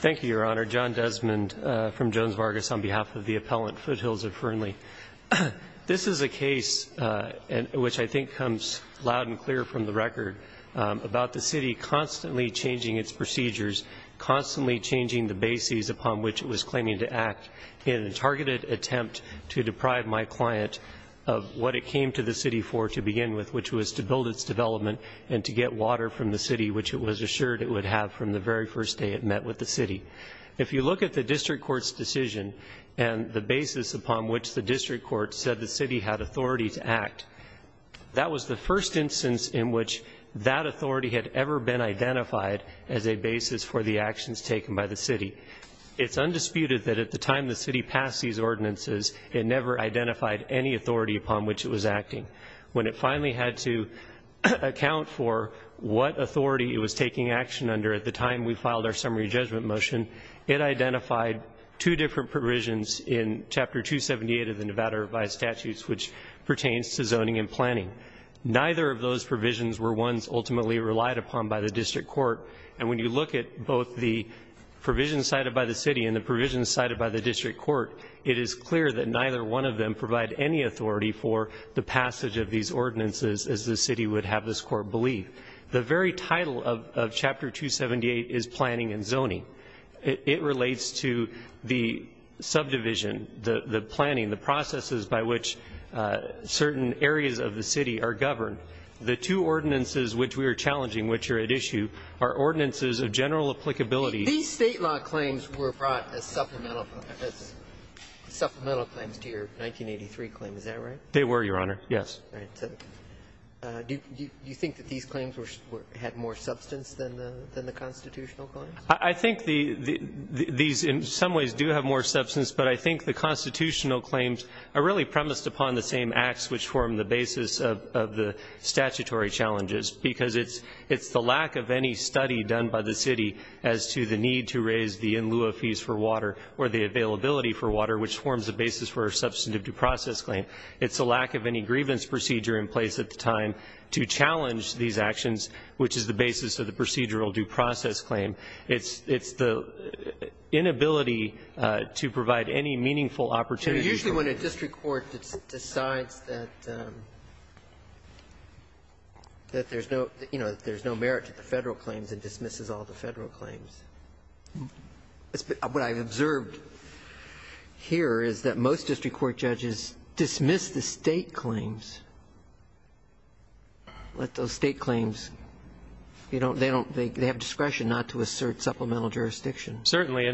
Thank you, Your Honor. John Desmond from Jones Vargas on behalf of the appellant, Foothills of Fernley. This is a case, which I think comes loud and clear from the record, about the city constantly changing its procedures, constantly changing the bases upon which it was claiming to act in a targeted attempt to deprive my client of what it came to the city for to begin with, which was to build its development and to get water from the city, which it was assured it would have from the very first day it met with the city. If you look at the district court's decision and the basis upon which the district court said the city had authority to act, that was the first instance in which that authority had ever been identified as a basis for the actions taken by the city. It's undisputed that at the time the city passed these ordinances, it never identified any authority upon which it was acting. When it finally had to account for what authority it was taking action under at the time we filed our summary judgment motion, it identified two different provisions in Chapter 278 of the Nevada Revised Statutes, which pertains to zoning and planning. Neither of those provisions were ones ultimately relied upon by the district court, and when you look at both the provisions cited by the city and the provisions cited by the district court, it is clear that neither one of them provide any authority for the passage of these ordinances as the city would have this court believe. The very title of Chapter 278 is planning and zoning. It relates to the subdivision, the planning, the processes by which certain areas of the city are governed. The two ordinances which we are challenging, which are at issue, are ordinances of general applicability. These State law claims were brought as supplemental claims to your 1983 claim, is that right? They were, Your Honor, yes. Do you think that these claims had more substance than the constitutional claims? I think these in some ways do have more substance, but I think the constitutional claims are really premised upon the same acts which form the basis of the statutory challenges, because it's the lack of any study done by the city as to the need to raise the in lieu of fees for water or the availability for water, which forms the basis for a substantive due process claim. It's the lack of any grievance procedure in place at the time to challenge these actions, which is the basis of the procedural due process claim. It's the inability to provide any meaningful opportunity. But usually when a district court decides that there's no merit to the Federal claims, it dismisses all the Federal claims. What I've observed here is that most district court judges dismiss the State claims, let those State claims, you know, they have discretion not to assert supplemental jurisdiction. Certainly.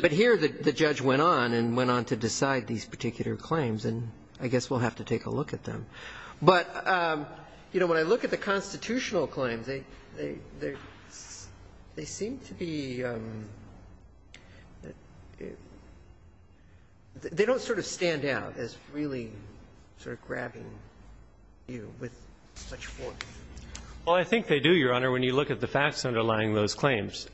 But here the judge went on and went on to decide these particular claims, and I guess we'll have to take a look at them. But, you know, when I look at the constitutional claims, they seem to be they don't sort of stand out as really sort of grabbing you with such force. Well, I think they do, Your Honor, when you look at the facts underlying those claims.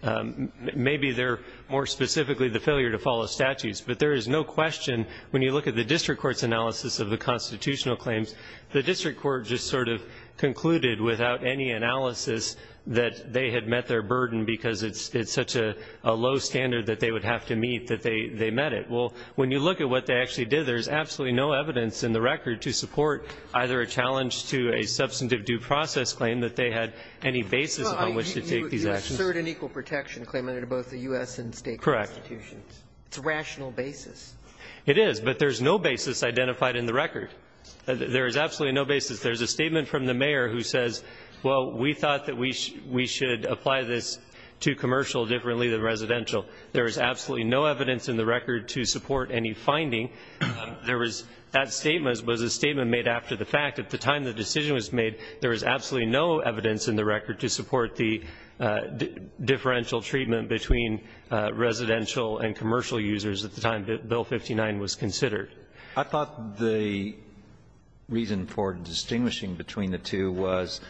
Maybe they're more specifically the failure to follow statutes, but there is no question when you look at the district court's analysis of the constitutional claims, the district court just sort of concluded without any analysis that they had met their burden because it's such a low standard that they would have to meet that they met it. Well, when you look at what they actually did, there's absolutely no evidence in the record to support either a challenge to a substantive due process claim that they had any basis on which to take these actions. But they assert an equal protection claim under both the U.S. and State constitutions. Correct. It's a rational basis. It is. But there's no basis identified in the record. There is absolutely no basis. There's a statement from the mayor who says, well, we thought that we should apply this to commercial differently than residential. There is absolutely no evidence in the record to support any finding. There was that statement was a statement made after the fact. At the time the decision was made, there was absolutely no evidence in the record to support the differential treatment between residential and commercial users at the time that Bill 59 was considered. I thought the reason for distinguishing between the two was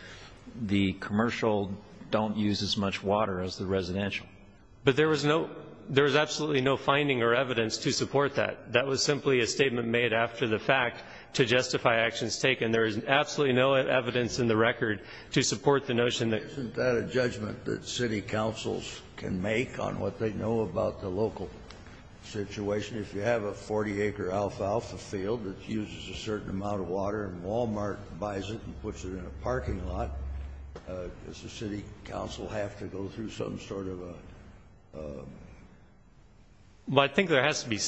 the commercial don't use as much water as the residential. But there was no – there was absolutely no finding or evidence to support that. That was simply a statement made after the fact to justify actions taken. And there is absolutely no evidence in the record to support the notion that – Isn't that a judgment that city councils can make on what they know about the local situation? If you have a 40-acre alfalfa field that uses a certain amount of water and Walmart buys it and puts it in a parking lot, does the city council have to go through some sort of a – I agree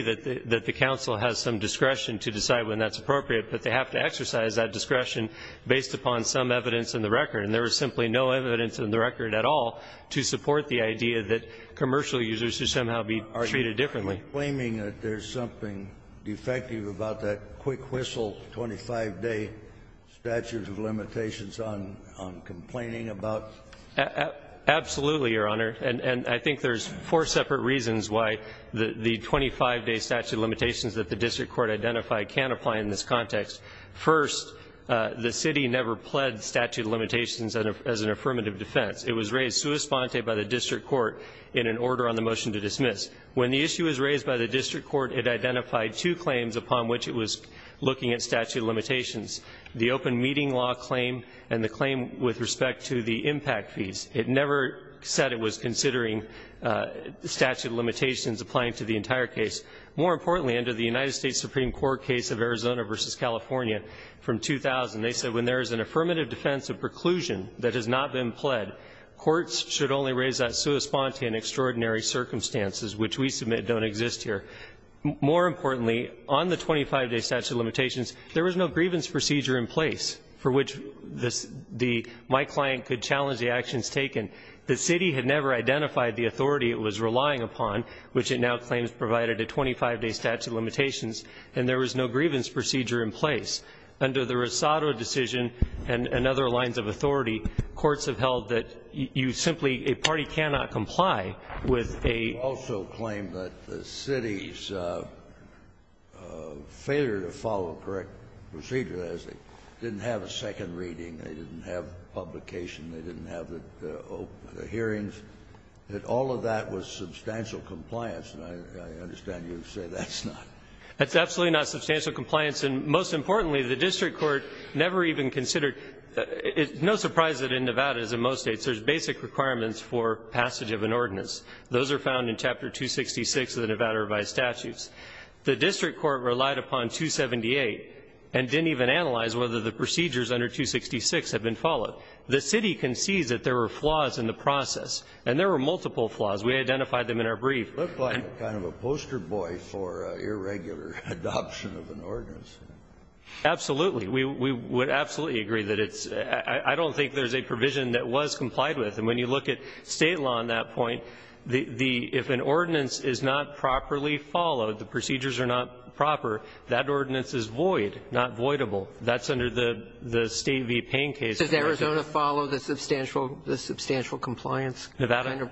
that the council has some discretion to decide when that's appropriate, but they have to exercise that discretion based upon some evidence in the record. And there was simply no evidence in the record at all to support the idea that commercial users should somehow be treated differently. Are you claiming that there's something defective about that quick whistle, 25-day statute of limitations on complaining about? Absolutely, Your Honor. And I think there's four separate reasons why the 25-day statute of limitations that the district court identified can't apply in this context. First, the city never pled statute of limitations as an affirmative defense. It was raised sua sponte by the district court in an order on the motion to dismiss. When the issue was raised by the district court, it identified two claims upon which it was looking at statute of limitations, the open meeting law claim and the claim with respect to the impact fees. It never said it was considering statute of limitations applying to the entire case. More importantly, under the United States Supreme Court case of Arizona v. California from 2000, they said when there is an affirmative defense of preclusion that has not been pled, courts should only raise that sua sponte in extraordinary circumstances, which we submit don't exist here. More importantly, on the 25-day statute of limitations, there was no grievance procedure in place for which my client could challenge the actions taken. The city had never identified the authority it was relying upon, which it now claims provided a 25-day statute of limitations, and there was no grievance procedure in place. Under the Rosado decision and other lines of authority, courts have held that you simply, a party cannot comply with a ---- They didn't have a second reading. They didn't have publication. They didn't have the hearings. That all of that was substantial compliance. And I understand you say that's not. That's absolutely not substantial compliance. And most importantly, the district court never even considered the ---- it's no surprise that in Nevada, as in most States, there's basic requirements for passage of an ordinance. Those are found in Chapter 266 of the Nevada Revised Statutes. The district court relied upon 278 and didn't even analyze whether the procedures under 266 had been followed. The city concedes that there were flaws in the process. And there were multiple flaws. We identified them in our brief. Scalia. It looked like kind of a poster boy for irregular adoption of an ordinance. Absolutely. We would absolutely agree that it's ---- I don't think there's a provision that was complied with. And when you look at State law on that point, the ---- if an ordinance is not properly followed, the procedures are not proper, that ordinance is void, not voidable. That's under the State v. Payne case. Does Arizona follow the substantial compliance? Nevada.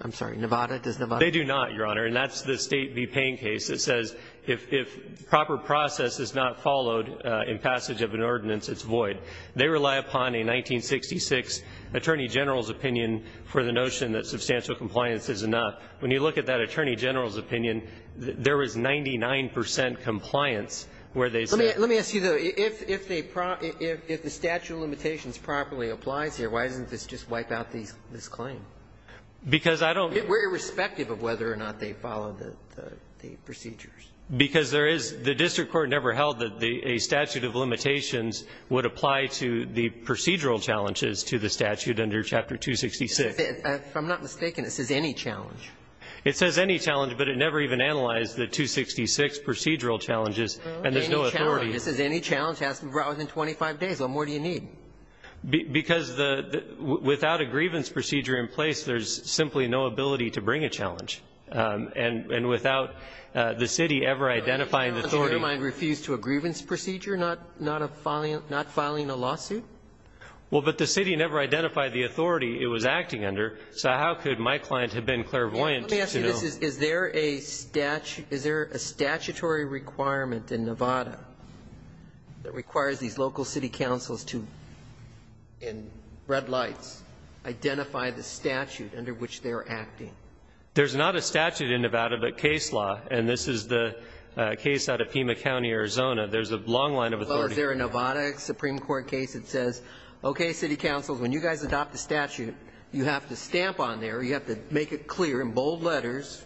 I'm sorry. Nevada. Does Nevada? They do not, Your Honor. And that's the State v. Payne case that says if proper process is not followed in passage of an ordinance, it's void. They rely upon a 1966 Attorney General's opinion for the notion that substantial compliance is enough. When you look at that Attorney General's opinion, there was 99 percent compliance where they said ---- Let me ask you, though. If the statute of limitations properly applies here, why doesn't this just wipe out this claim? Because I don't ---- We're irrespective of whether or not they follow the procedures. Because there is ---- the district court never held that a statute of limitations would apply to the procedural challenges to the statute under Chapter 266. But if I'm not mistaken, it says any challenge. It says any challenge, but it never even analyzed the 266 procedural challenges, and there's no authority. Any challenge. It says any challenge has to be brought within 25 days. What more do you need? Because the ---- without a grievance procedure in place, there's simply no ability to bring a challenge. And without the city ever identifying the authority ---- Does your mind refuse to a grievance procedure, not filing a lawsuit? Well, but the city never identified the authority it was acting under, so how could my client have been clairvoyant to know? Let me ask you this. Is there a statute ---- is there a statutory requirement in Nevada that requires these local city councils to, in red lights, identify the statute under which they are acting? There's not a statute in Nevada, but case law, and this is the case out of Pima County, Arizona. There's a long line of authority. Well, is there a Nevada Supreme Court case that says, okay, city councils, when you guys adopt the statute, you have to stamp on there, you have to make it clear in bold letters,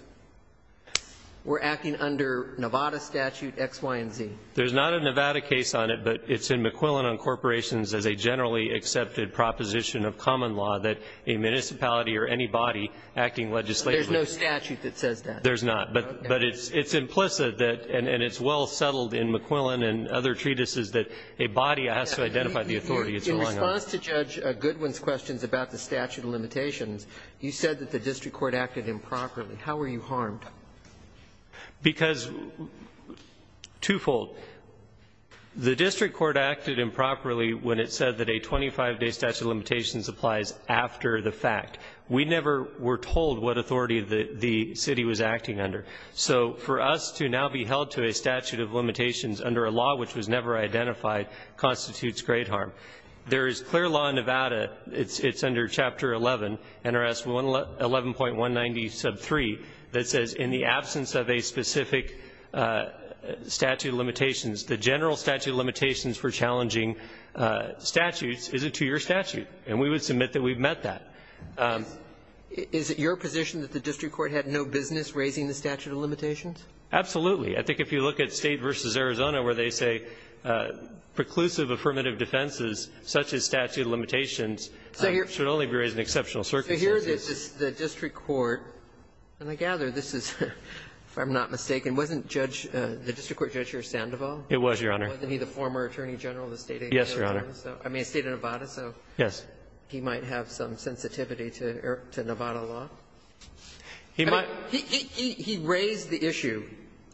we're acting under Nevada statute X, Y, and Z. There's not a Nevada case on it, but it's in McQuillan on corporations as a generally accepted proposition of common law that a municipality or any body acting legislatively ---- There's no statute that says that. There's not. But it's implicit that, and it's well settled in McQuillan and other treatises, that a body has to identify the authority it's relying on. In response to Judge Goodwin's questions about the statute of limitations, you said that the district court acted improperly. How were you harmed? Because twofold. The district court acted improperly when it said that a 25-day statute of limitations applies after the fact. We never were told what authority the city was acting under. So for us to now be held to a statute of limitations under a law which was never identified constitutes great harm. There is clear law in Nevada, it's under Chapter 11, NRS 11.190, Sub 3, that says in the absence of a specific statute of limitations, the general statute of limitations for challenging statutes is a two-year statute. And we would submit that we've met that. Is it your position that the district court had no business raising the statute of limitations? Absolutely. I think if you look at State v. Arizona where they say preclusive affirmative defenses such as statute of limitations should only be raised in exceptional circumstances. So here's the district court, and I gather this is, if I'm not mistaken, wasn't Judge – the district court judge here Sandoval? It was, Your Honor. Wasn't he the former attorney general of the State of Nevada? Yes, Your Honor. I mean, the State of Nevada. Yes. He might have some sensitivity to Nevada law. He might – He raised the issue.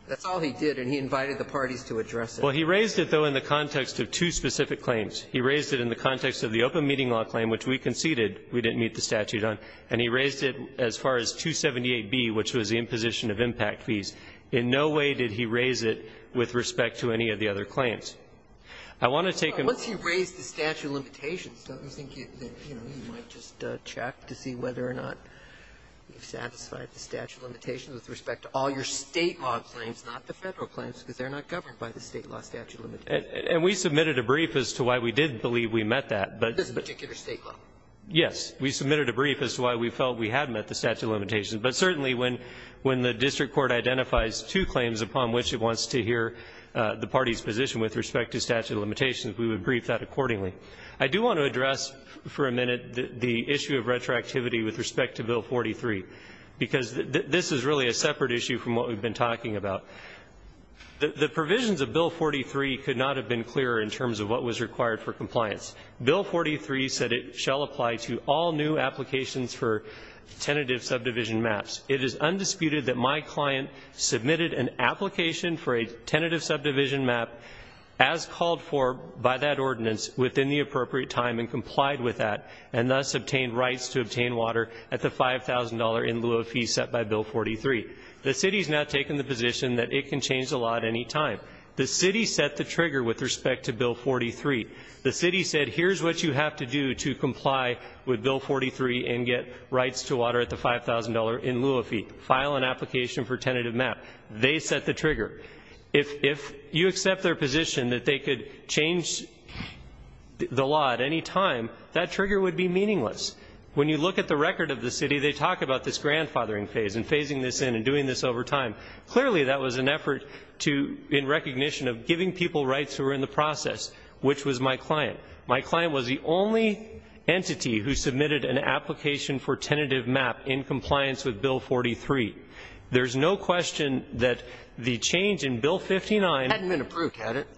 That's all he did, and he invited the parties to address it. Well, he raised it, though, in the context of two specific claims. He raised it in the context of the open meeting law claim, which we conceded we didn't meet the statute on. And he raised it as far as 278B, which was the imposition of impact fees. In no way did he raise it with respect to any of the other claims. I want to take a – Once he raised the statute of limitations, don't you think that, you know, you might just check to see whether or not you've satisfied the statute of limitations with respect to all your State law claims, not the Federal claims, because they're not governed by the State law statute of limitations? And we submitted a brief as to why we did believe we met that, but – This particular State law. Yes. We submitted a brief as to why we felt we had met the statute of limitations. But certainly, when the district court identifies two claims upon which it wants to hear the party's position with respect to statute of limitations, we would brief that accordingly. I do want to address for a minute the issue of retroactivity with respect to Bill 43, because this is really a separate issue from what we've been talking about. The provisions of Bill 43 could not have been clearer in terms of what was required for compliance. Bill 43 said it shall apply to all new applications for tentative subdivision maps. It is undisputed that my client submitted an application for a tentative subdivision map as called for by that ordinance within the appropriate time and complied with that, and thus obtained rights to obtain water at the $5,000 in lieu of fees set by Bill 43. The City has now taken the position that it can change the law at any time. The City set the trigger with respect to Bill 43. The City said, here's what you have to do to comply with Bill 43 and get rights to water at the $5,000 in lieu of fee. File an application for tentative map. They set the trigger. If you accept their position that they could change the law at any time, that trigger would be meaningless. When you look at the record of the City, they talk about this grandfathering phase and phasing this in and doing this over time. Clearly, that was an effort in recognition of giving people rights who were in the process, which was my client. My client was the only entity who submitted an application for tentative map in compliance with Bill 43. There's no question that the change in Bill 59 hadn't been approved, had it?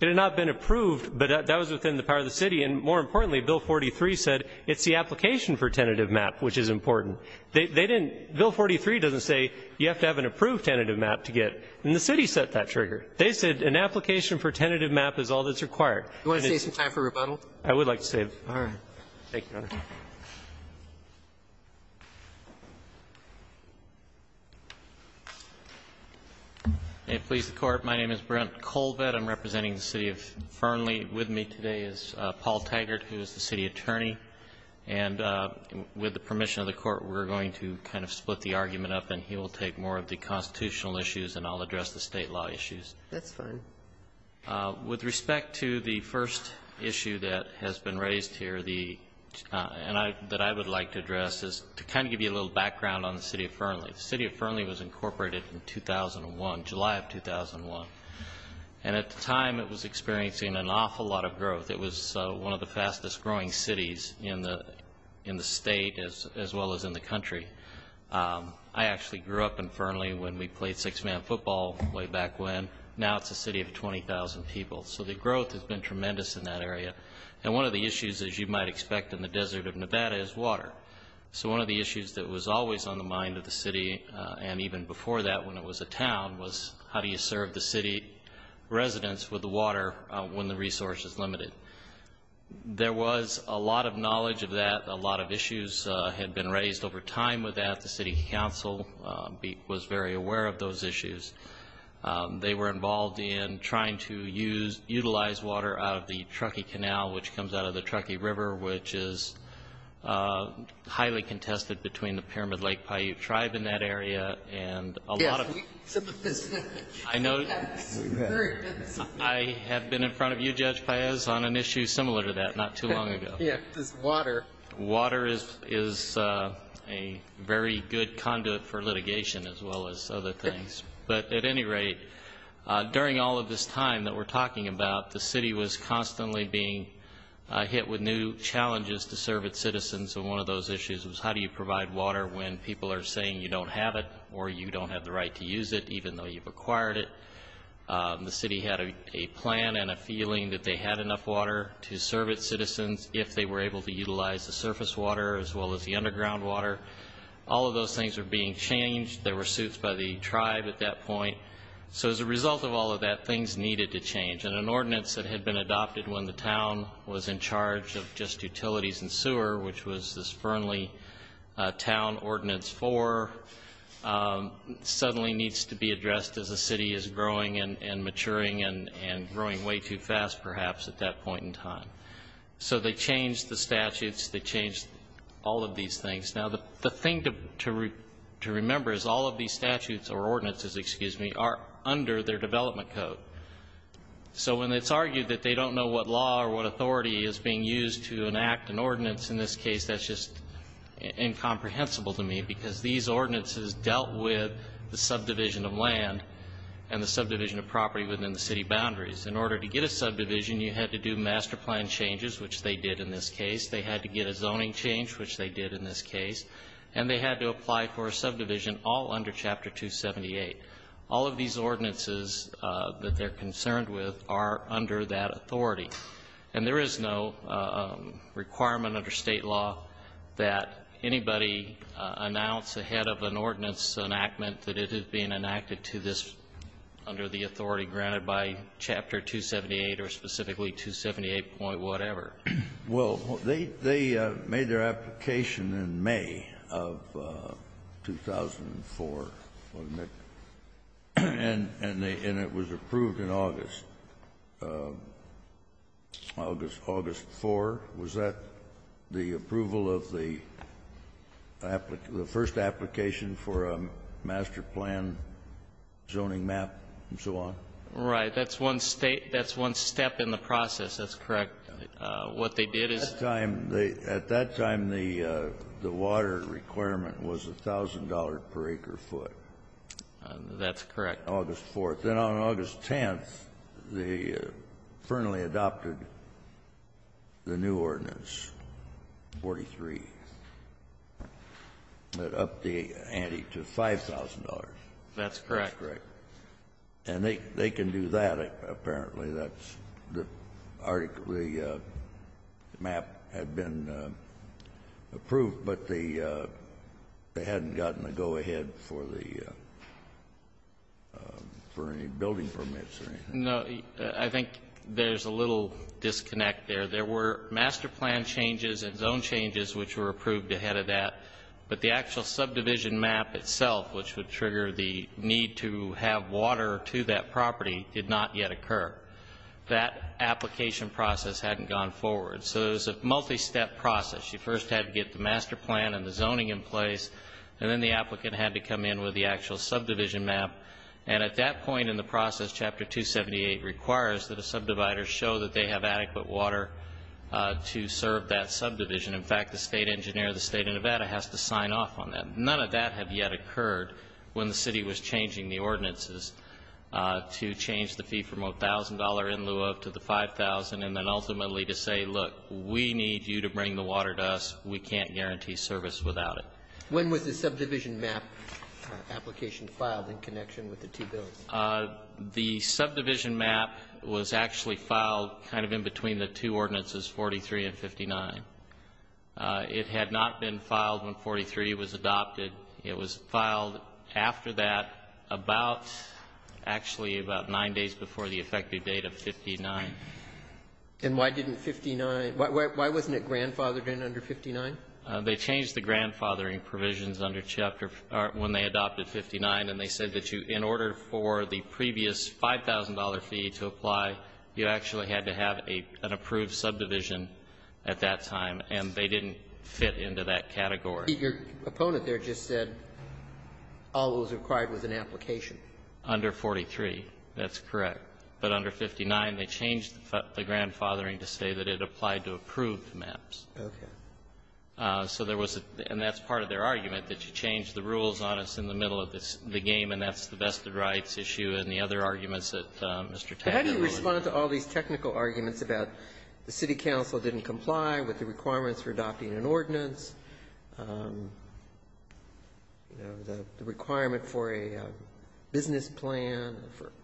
It had not been approved, but that was within the power of the City. And more importantly, Bill 43 said it's the application for tentative map which is important. They didn't, Bill 43 doesn't say you have to have an approved tentative map to get and the City set that trigger. They said an application for tentative map is all that's required. Do you want to save some time for rebuttal? I would like to save. All right. Thank you, Your Honor. May it please the Court. My name is Brent Colvett. I'm representing the City of Fernley. With me today is Paul Taggart, who is the City attorney. And with the permission of the Court, we're going to kind of split the argument up, and he will take more of the constitutional issues, and I'll address the State law issues. That's fine. With respect to the first issue that has been raised here, and that I would like to address, is to kind of give you a little background on the City of Fernley. The City of Fernley was incorporated in 2001, July of 2001. And at the time, it was experiencing an awful lot of growth. It was one of the fastest growing cities in the State as well as in the country. I actually grew up in Fernley when we played six-man football way back when. Now it's a city of 20,000 people. So the growth has been tremendous in that area. And one of the issues, as you might expect in the desert of Nevada, is water. So one of the issues that was always on the mind of the city, and even before that when it was a town, was how do you serve the city residents with the water when the resource is limited. There was a lot of knowledge of that. A lot of issues had been raised over time with that. The city council was very aware of those issues. They were involved in trying to utilize water out of the Truckee Canal, which comes out of the Truckee River, which is highly contested between the Pyramid Lake Paiute Tribe in that area. And a lot of... Yes, some of this... I know I have been in front of you, Judge Paez, on an issue similar to that not too long ago. Yes, this water. Water is a very good conduit for litigation as well as other things. But at any rate, during all of this time that we're talking about, the city was constantly being hit with new challenges to serve its citizens. And one of those issues was how do you provide water when people are saying you don't have it or you don't have the right to use it, even though you've acquired it. The city had a plan and a feeling that they had enough water to serve its citizens if they were able to utilize the surface water as well as the underground water. All of those things were being changed. There were suits by the tribe at that point. So as a result of all of that, things needed to change. And an ordinance that had been adopted when the town was in charge of just utilities and sewer, which was this Fernley Town Ordinance 4, suddenly needs to be addressed as the city is growing and maturing and growing way too fast perhaps at that point in time. So they changed the statutes. They changed all of these things. Now, the thing to remember is all of these statutes or ordinances, excuse me, are under their development code. So when it's argued that they don't know what law or what authority is being used to enact an ordinance in this case, that's just incomprehensible to me because these ordinances dealt with the subdivision of land and the subdivision of property within the city boundaries. In order to get a subdivision, you had to do master plan changes, which they did in this case. They had to get a zoning change, which they did in this case. And they had to apply for a subdivision all under Chapter 278. All of these ordinances that they're concerned with are under that authority. And there is no requirement under State law that anybody announce ahead of an ordinance enactment that it is being enacted to this under the authority granted by Chapter 278 or specifically 278.whatever. Well, they made their application in May of 2004, wasn't it? And it was approved in August, August 4. Was that the approval of the first application for a master plan zoning map and so on? Right. That's one step in the process. That's correct. What they did is ---- At that time, the water requirement was $1,000 per acre foot. That's correct. August 4. Then on August 10, they firmly adopted the new ordinance, 43, that upped the ante to $5,000. That's correct. That's correct. And they can do that, apparently. The map had been approved, but they hadn't gotten a go-ahead for any building permits or anything. No. I think there's a little disconnect there. There were master plan changes and zone changes which were approved ahead of that, but the actual subdivision map itself, which would trigger the need to have water to that property, did not yet occur. That application process hadn't gone forward. So it was a multi-step process. You first had to get the master plan and the zoning in place, and then the applicant had to come in with the actual subdivision map. And at that point in the process, Chapter 278 requires that a subdivider show that they have adequate water to serve that subdivision. In fact, the state engineer of the state of Nevada has to sign off on that. None of that had yet occurred when the city was changing the ordinances to change the fee from $1,000 in lieu of to the $5,000, and then ultimately to say, look, we need you to bring the water to us. We can't guarantee service without it. When was the subdivision map application filed in connection with the two buildings? The subdivision map was actually filed kind of in between the two ordinances, 43 and 59. It had not been filed when 43 was adopted. It was filed after that, about, actually about nine days before the effective date of 59. And why didn't 59, why wasn't it grandfathered in under 59? They changed the grandfathering provisions under Chapter, or when they adopted 59, and they said that you, in order for the previous $5,000 fee to apply, you actually had to have an approved subdivision at that time, and they didn't fit into that category. Your opponent there just said all that was required was an application. Under 43. That's correct. But under 59, they changed the grandfathering to say that it applied to approved maps. Okay. So there was a, and that's part of their argument, that you change the rules on us in the middle of this, the game, and that's the vested rights issue and the other arguments that Mr. Taffer made. How do you respond to all these technical arguments about the city council didn't meet, you know, the requirement for a business plan,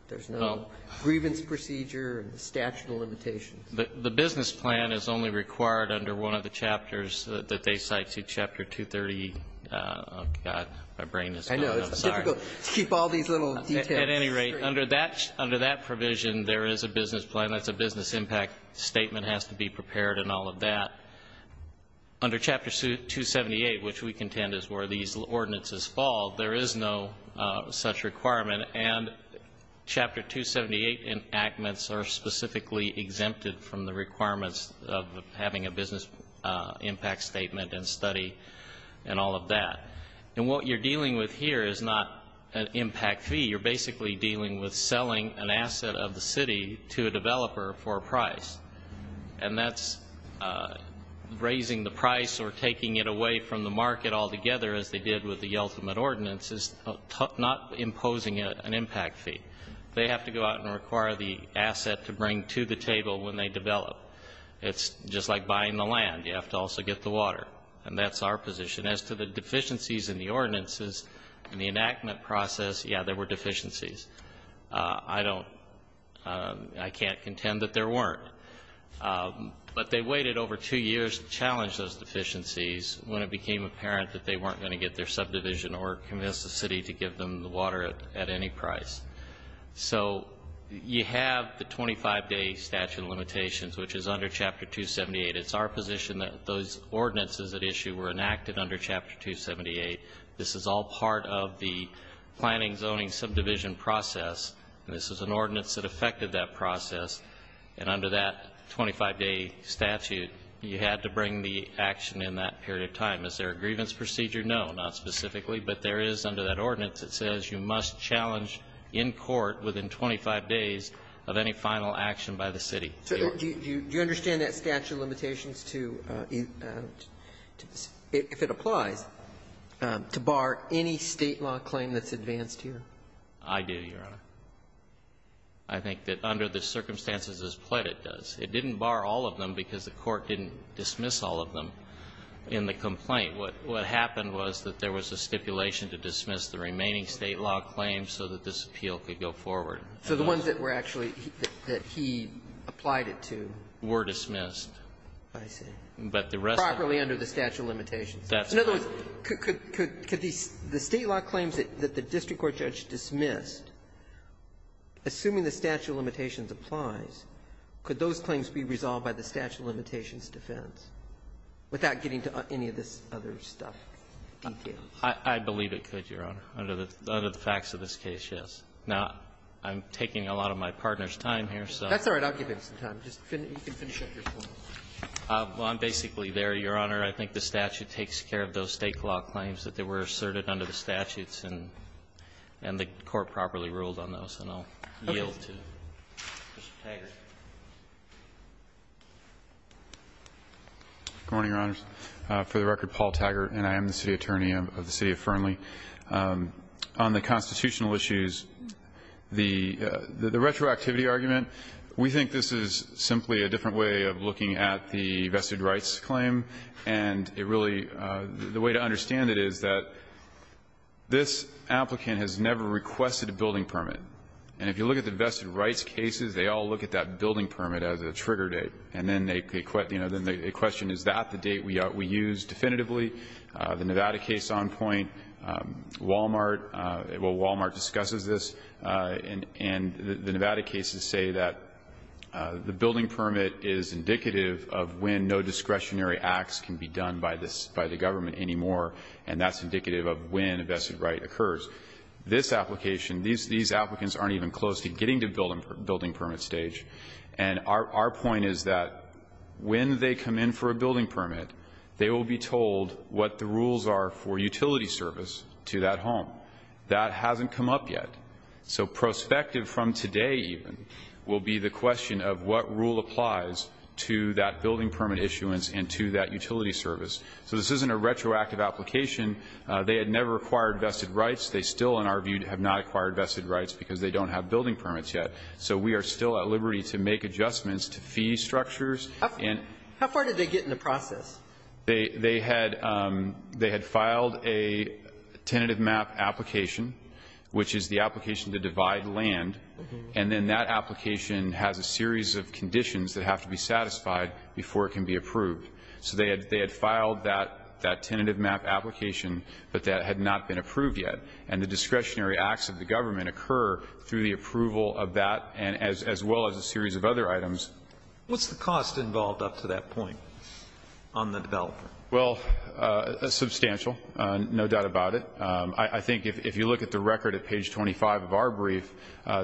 there's no grievance procedure and the statute of limitations? The business plan is only required under one of the chapters that they cite, see Chapter 230. Oh, God, my brain is going. I know. It's difficult to keep all these little details. At any rate, under that provision, there is a business plan. That's a business impact statement has to be prepared and all of that. Under Chapter 278, which we contend is where these ordinances fall, there is no such requirement and Chapter 278 enactments are specifically exempted from the requirements of having a business impact statement and study and all of that. And what you're dealing with here is not an impact fee. You're basically dealing with selling an asset of the city to a developer for a price. And that's raising the price or taking it away from the market altogether, as they did with the ultimate ordinances, not imposing an impact fee. They have to go out and require the asset to bring to the table when they develop. It's just like buying the land. You have to also get the water. And that's our position. As to the deficiencies in the ordinances and the enactment process, yeah, there were deficiencies. I can't contend that there weren't. But they waited over two years to challenge those deficiencies when it became apparent that they weren't going to get their subdivision or convince the city to give them the water at any price. So you have the 25-day statute of limitations, which is under Chapter 278. It's our position that those ordinances at issue were enacted under Chapter 278. This is all part of the planning zoning subdivision process. And this is an ordinance that affected that process. And under that 25-day statute, you had to bring the action in that period of time. Is there a grievance procedure? No, not specifically. But there is under that ordinance. It says you must challenge in court within 25 days of any final action by the city. So do you understand that statute of limitations to, if it applies, to bar any State law claim that's advanced here? I do, Your Honor. I think that under the circumstances as Pledd it does. It didn't bar all of them because the Court didn't dismiss all of them in the complaint. What happened was that there was a stipulation to dismiss the remaining State law claims so that this appeal could go forward. So the ones that were actually that he applied it to? Were dismissed. I see. Properly under the statute of limitations. That's right. In other words, could the State law claims that the district court judge dismissed, assuming the statute of limitations applies, could those claims be resolved by the statute of limitations defense without getting to any of this other stuff? I believe it could, Your Honor, under the facts of this case, yes. Now, I'm taking a lot of my partner's time here, so. That's all right. I'll give him some time. Just finish up your point. Well, I'm basically there, Your Honor. I think the statute takes care of those State law claims that were asserted under the statutes, and the Court properly ruled on those. And I'll yield to Mr. Taggart. Good morning, Your Honors. For the record, Paul Taggart, and I am the city attorney of the city of Fernley. On the constitutional issues, the retroactivity argument, we think this is simply a different way of looking at the vested rights claim. And it really the way to understand it is that this applicant has never requested a building permit. And if you look at the vested rights cases, they all look at that building permit as a trigger date. And then they question, is that the date we use definitively? The Nevada case on point, Walmart, well, Walmart discusses this. And the Nevada cases say that the building permit is indicative of when no discretionary acts can be done by the government anymore. And that's indicative of when a vested right occurs. This application, these applicants aren't even close to getting to building permit stage. And our point is that when they come in for a building permit, they will be told what the rules are for utility service to that home. That hasn't come up yet. So prospective from today even will be the question of what rule applies to that building permit issuance and to that utility service. So this isn't a retroactive application. They had never acquired vested rights. They still, in our view, have not acquired vested rights because they don't have building permits yet. So we are still at liberty to make adjustments to fee structures. How far did they get in the process? They had filed a tentative map application, which is the application to divide land. And then that application has a series of conditions that have to be satisfied before it can be approved. So they had filed that tentative map application, but that had not been approved yet. And the discretionary acts of the government occur through the approval of that as well as a series of other items. What's the cost involved up to that point on the developer? Well, substantial, no doubt about it. I think if you look at the record at page 25 of our brief,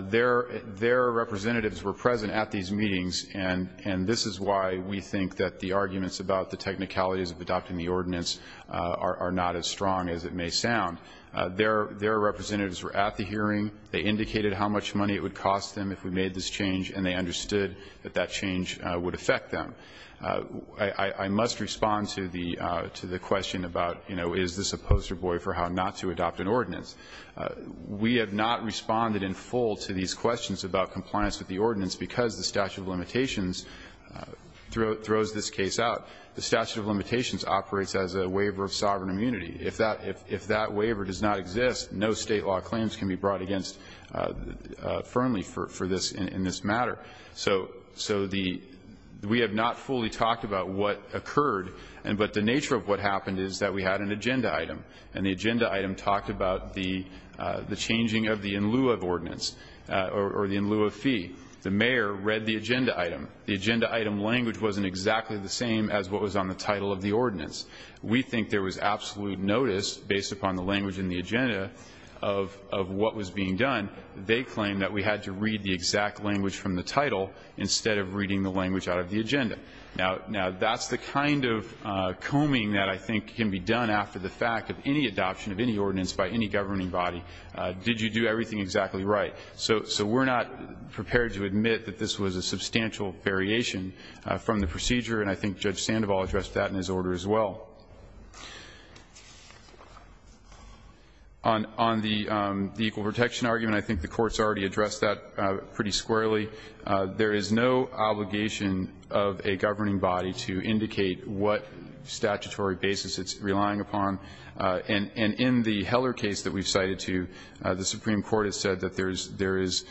their representatives were present at these meetings. And this is why we think that the arguments about the technicalities of adopting the ordinance are not as strong as it may sound. Their representatives were at the hearing. They indicated how much money it would cost them if we made this change. And they understood that that change would affect them. I must respond to the question about, you know, is this a poster boy for how not to adopt an ordinance. We have not responded in full to these questions about compliance with the ordinance because the statute of limitations throws this case out. The statute of limitations operates as a waiver of sovereign immunity. If that waiver does not exist, no State law claims can be brought against firmly in this matter. So we have not fully talked about what occurred. But the nature of what happened is that we had an agenda item. And the agenda item talked about the changing of the in lieu of ordinance or the in lieu of fee. The mayor read the agenda item. The agenda item language wasn't exactly the same as what was on the title of the ordinance. We think there was absolute notice, based upon the language in the agenda, of what was being done. They claim that we had to read the exact language from the title instead of reading the language out of the agenda. Now, that's the kind of combing that I think can be done after the fact of any adoption of any ordinance by any governing body. Did you do everything exactly right? So we're not prepared to admit that this was a substantial variation from the procedure. And I think Judge Sandoval addressed that in his order as well. On the equal protection argument, I think the Court's already addressed that pretty squarely. There is no obligation of a governing body to indicate what statutory basis it's relying upon. And in the Heller case that we've cited to, the Supreme Court has said that there is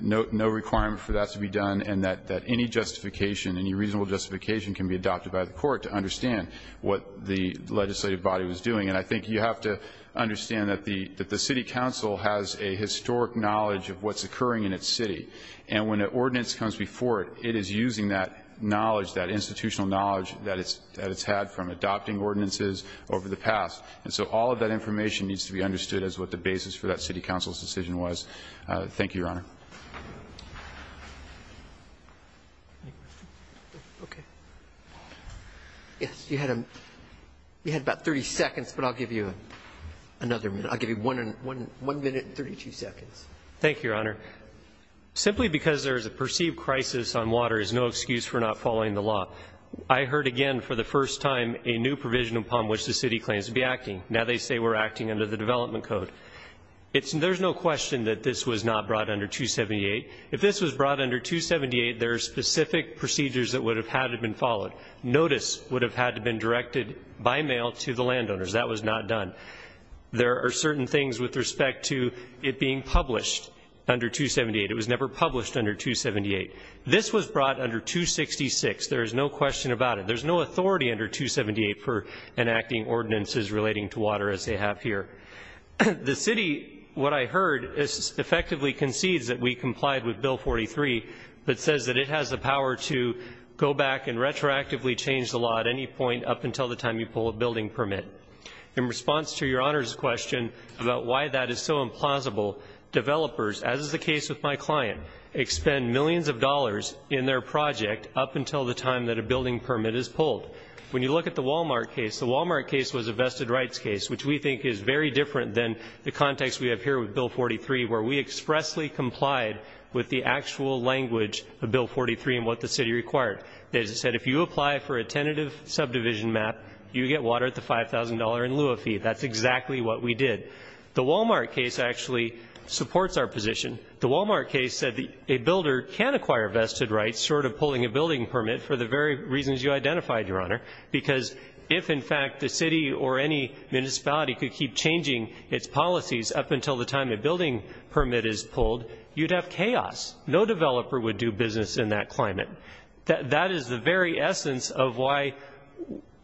no requirement for that to be done and that any justification, any reasonable justification, can be adopted by the Court to understand what the legislative body was doing. And I think you have to understand that the City Council has a historic knowledge of what's occurring in its city. And when an ordinance comes before it, it is using that knowledge, that institutional knowledge that it's had from adopting ordinances over the past. And so all of that information needs to be understood as what the basis for that City Council's decision was. Thank you, Your Honor. Any questions? Okay. Yes, you had about 30 seconds, but I'll give you another minute. I'll give you 1 minute and 32 seconds. Thank you, Your Honor. Simply because there is a perceived crisis on water is no excuse for not following the law. I heard again for the first time a new provision upon which the city claims to be acting. Now they say we're acting under the development code. There's no question that this was not brought under 278. If this was brought under 278, there are specific procedures that would have had been followed. Notice would have had to been directed by mail to the landowners. That was not done. There are certain things with respect to it being published under 278. It was never published under 278. This was brought under 266. There is no question about it. There's no authority under 278 for enacting ordinances relating to water, as they have here. The city, what I heard, effectively concedes that we complied with Bill 43, but says that it has the power to go back and retroactively change the law at any point up until the time you pull a building permit. In response to Your Honor's question about why that is so implausible, developers, as is the case with my client, expend millions of dollars in their project up until the time that a building permit is pulled. When you look at the Walmart case, the Walmart case was a vested rights case, which we think is very different than the context we have here with Bill 43, where we expressly complied with the actual language of Bill 43 and what the city required. As I said, if you apply for a tentative subdivision map, you get water at the $5,000 in lieu of fee. That's exactly what we did. The Walmart case actually supports our position. The Walmart case said a builder can acquire vested rights short of pulling a building permit for the very reasons you identified, Your Honor, because if, in fact, the city or any municipality could keep changing its policies up until the time a building permit is pulled, you'd have chaos. No developer would do business in that climate. That is the very essence of why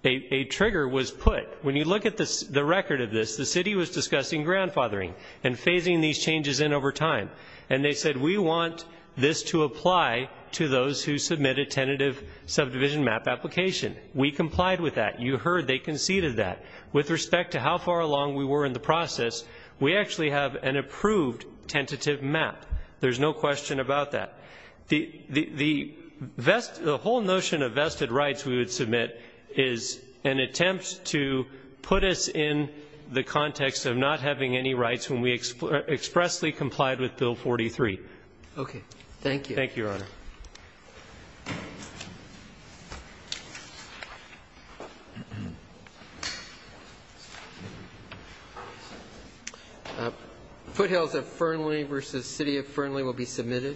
a trigger was put. When you look at the record of this, the city was discussing grandfathering and phasing these changes in over time, and they said we want this to apply to those who submit a tentative subdivision map application. We complied with that. You heard they conceded that. With respect to how far along we were in the process, we actually have an approved tentative map. There's no question about that. The whole notion of vested rights we would submit is an attempt to put us in the context of not having any rights when we expressly complied with Bill 43. Okay. Thank you. Thank you, Your Honor. Thank you. Foothills of Fernley versus City of Fernley will be submitted.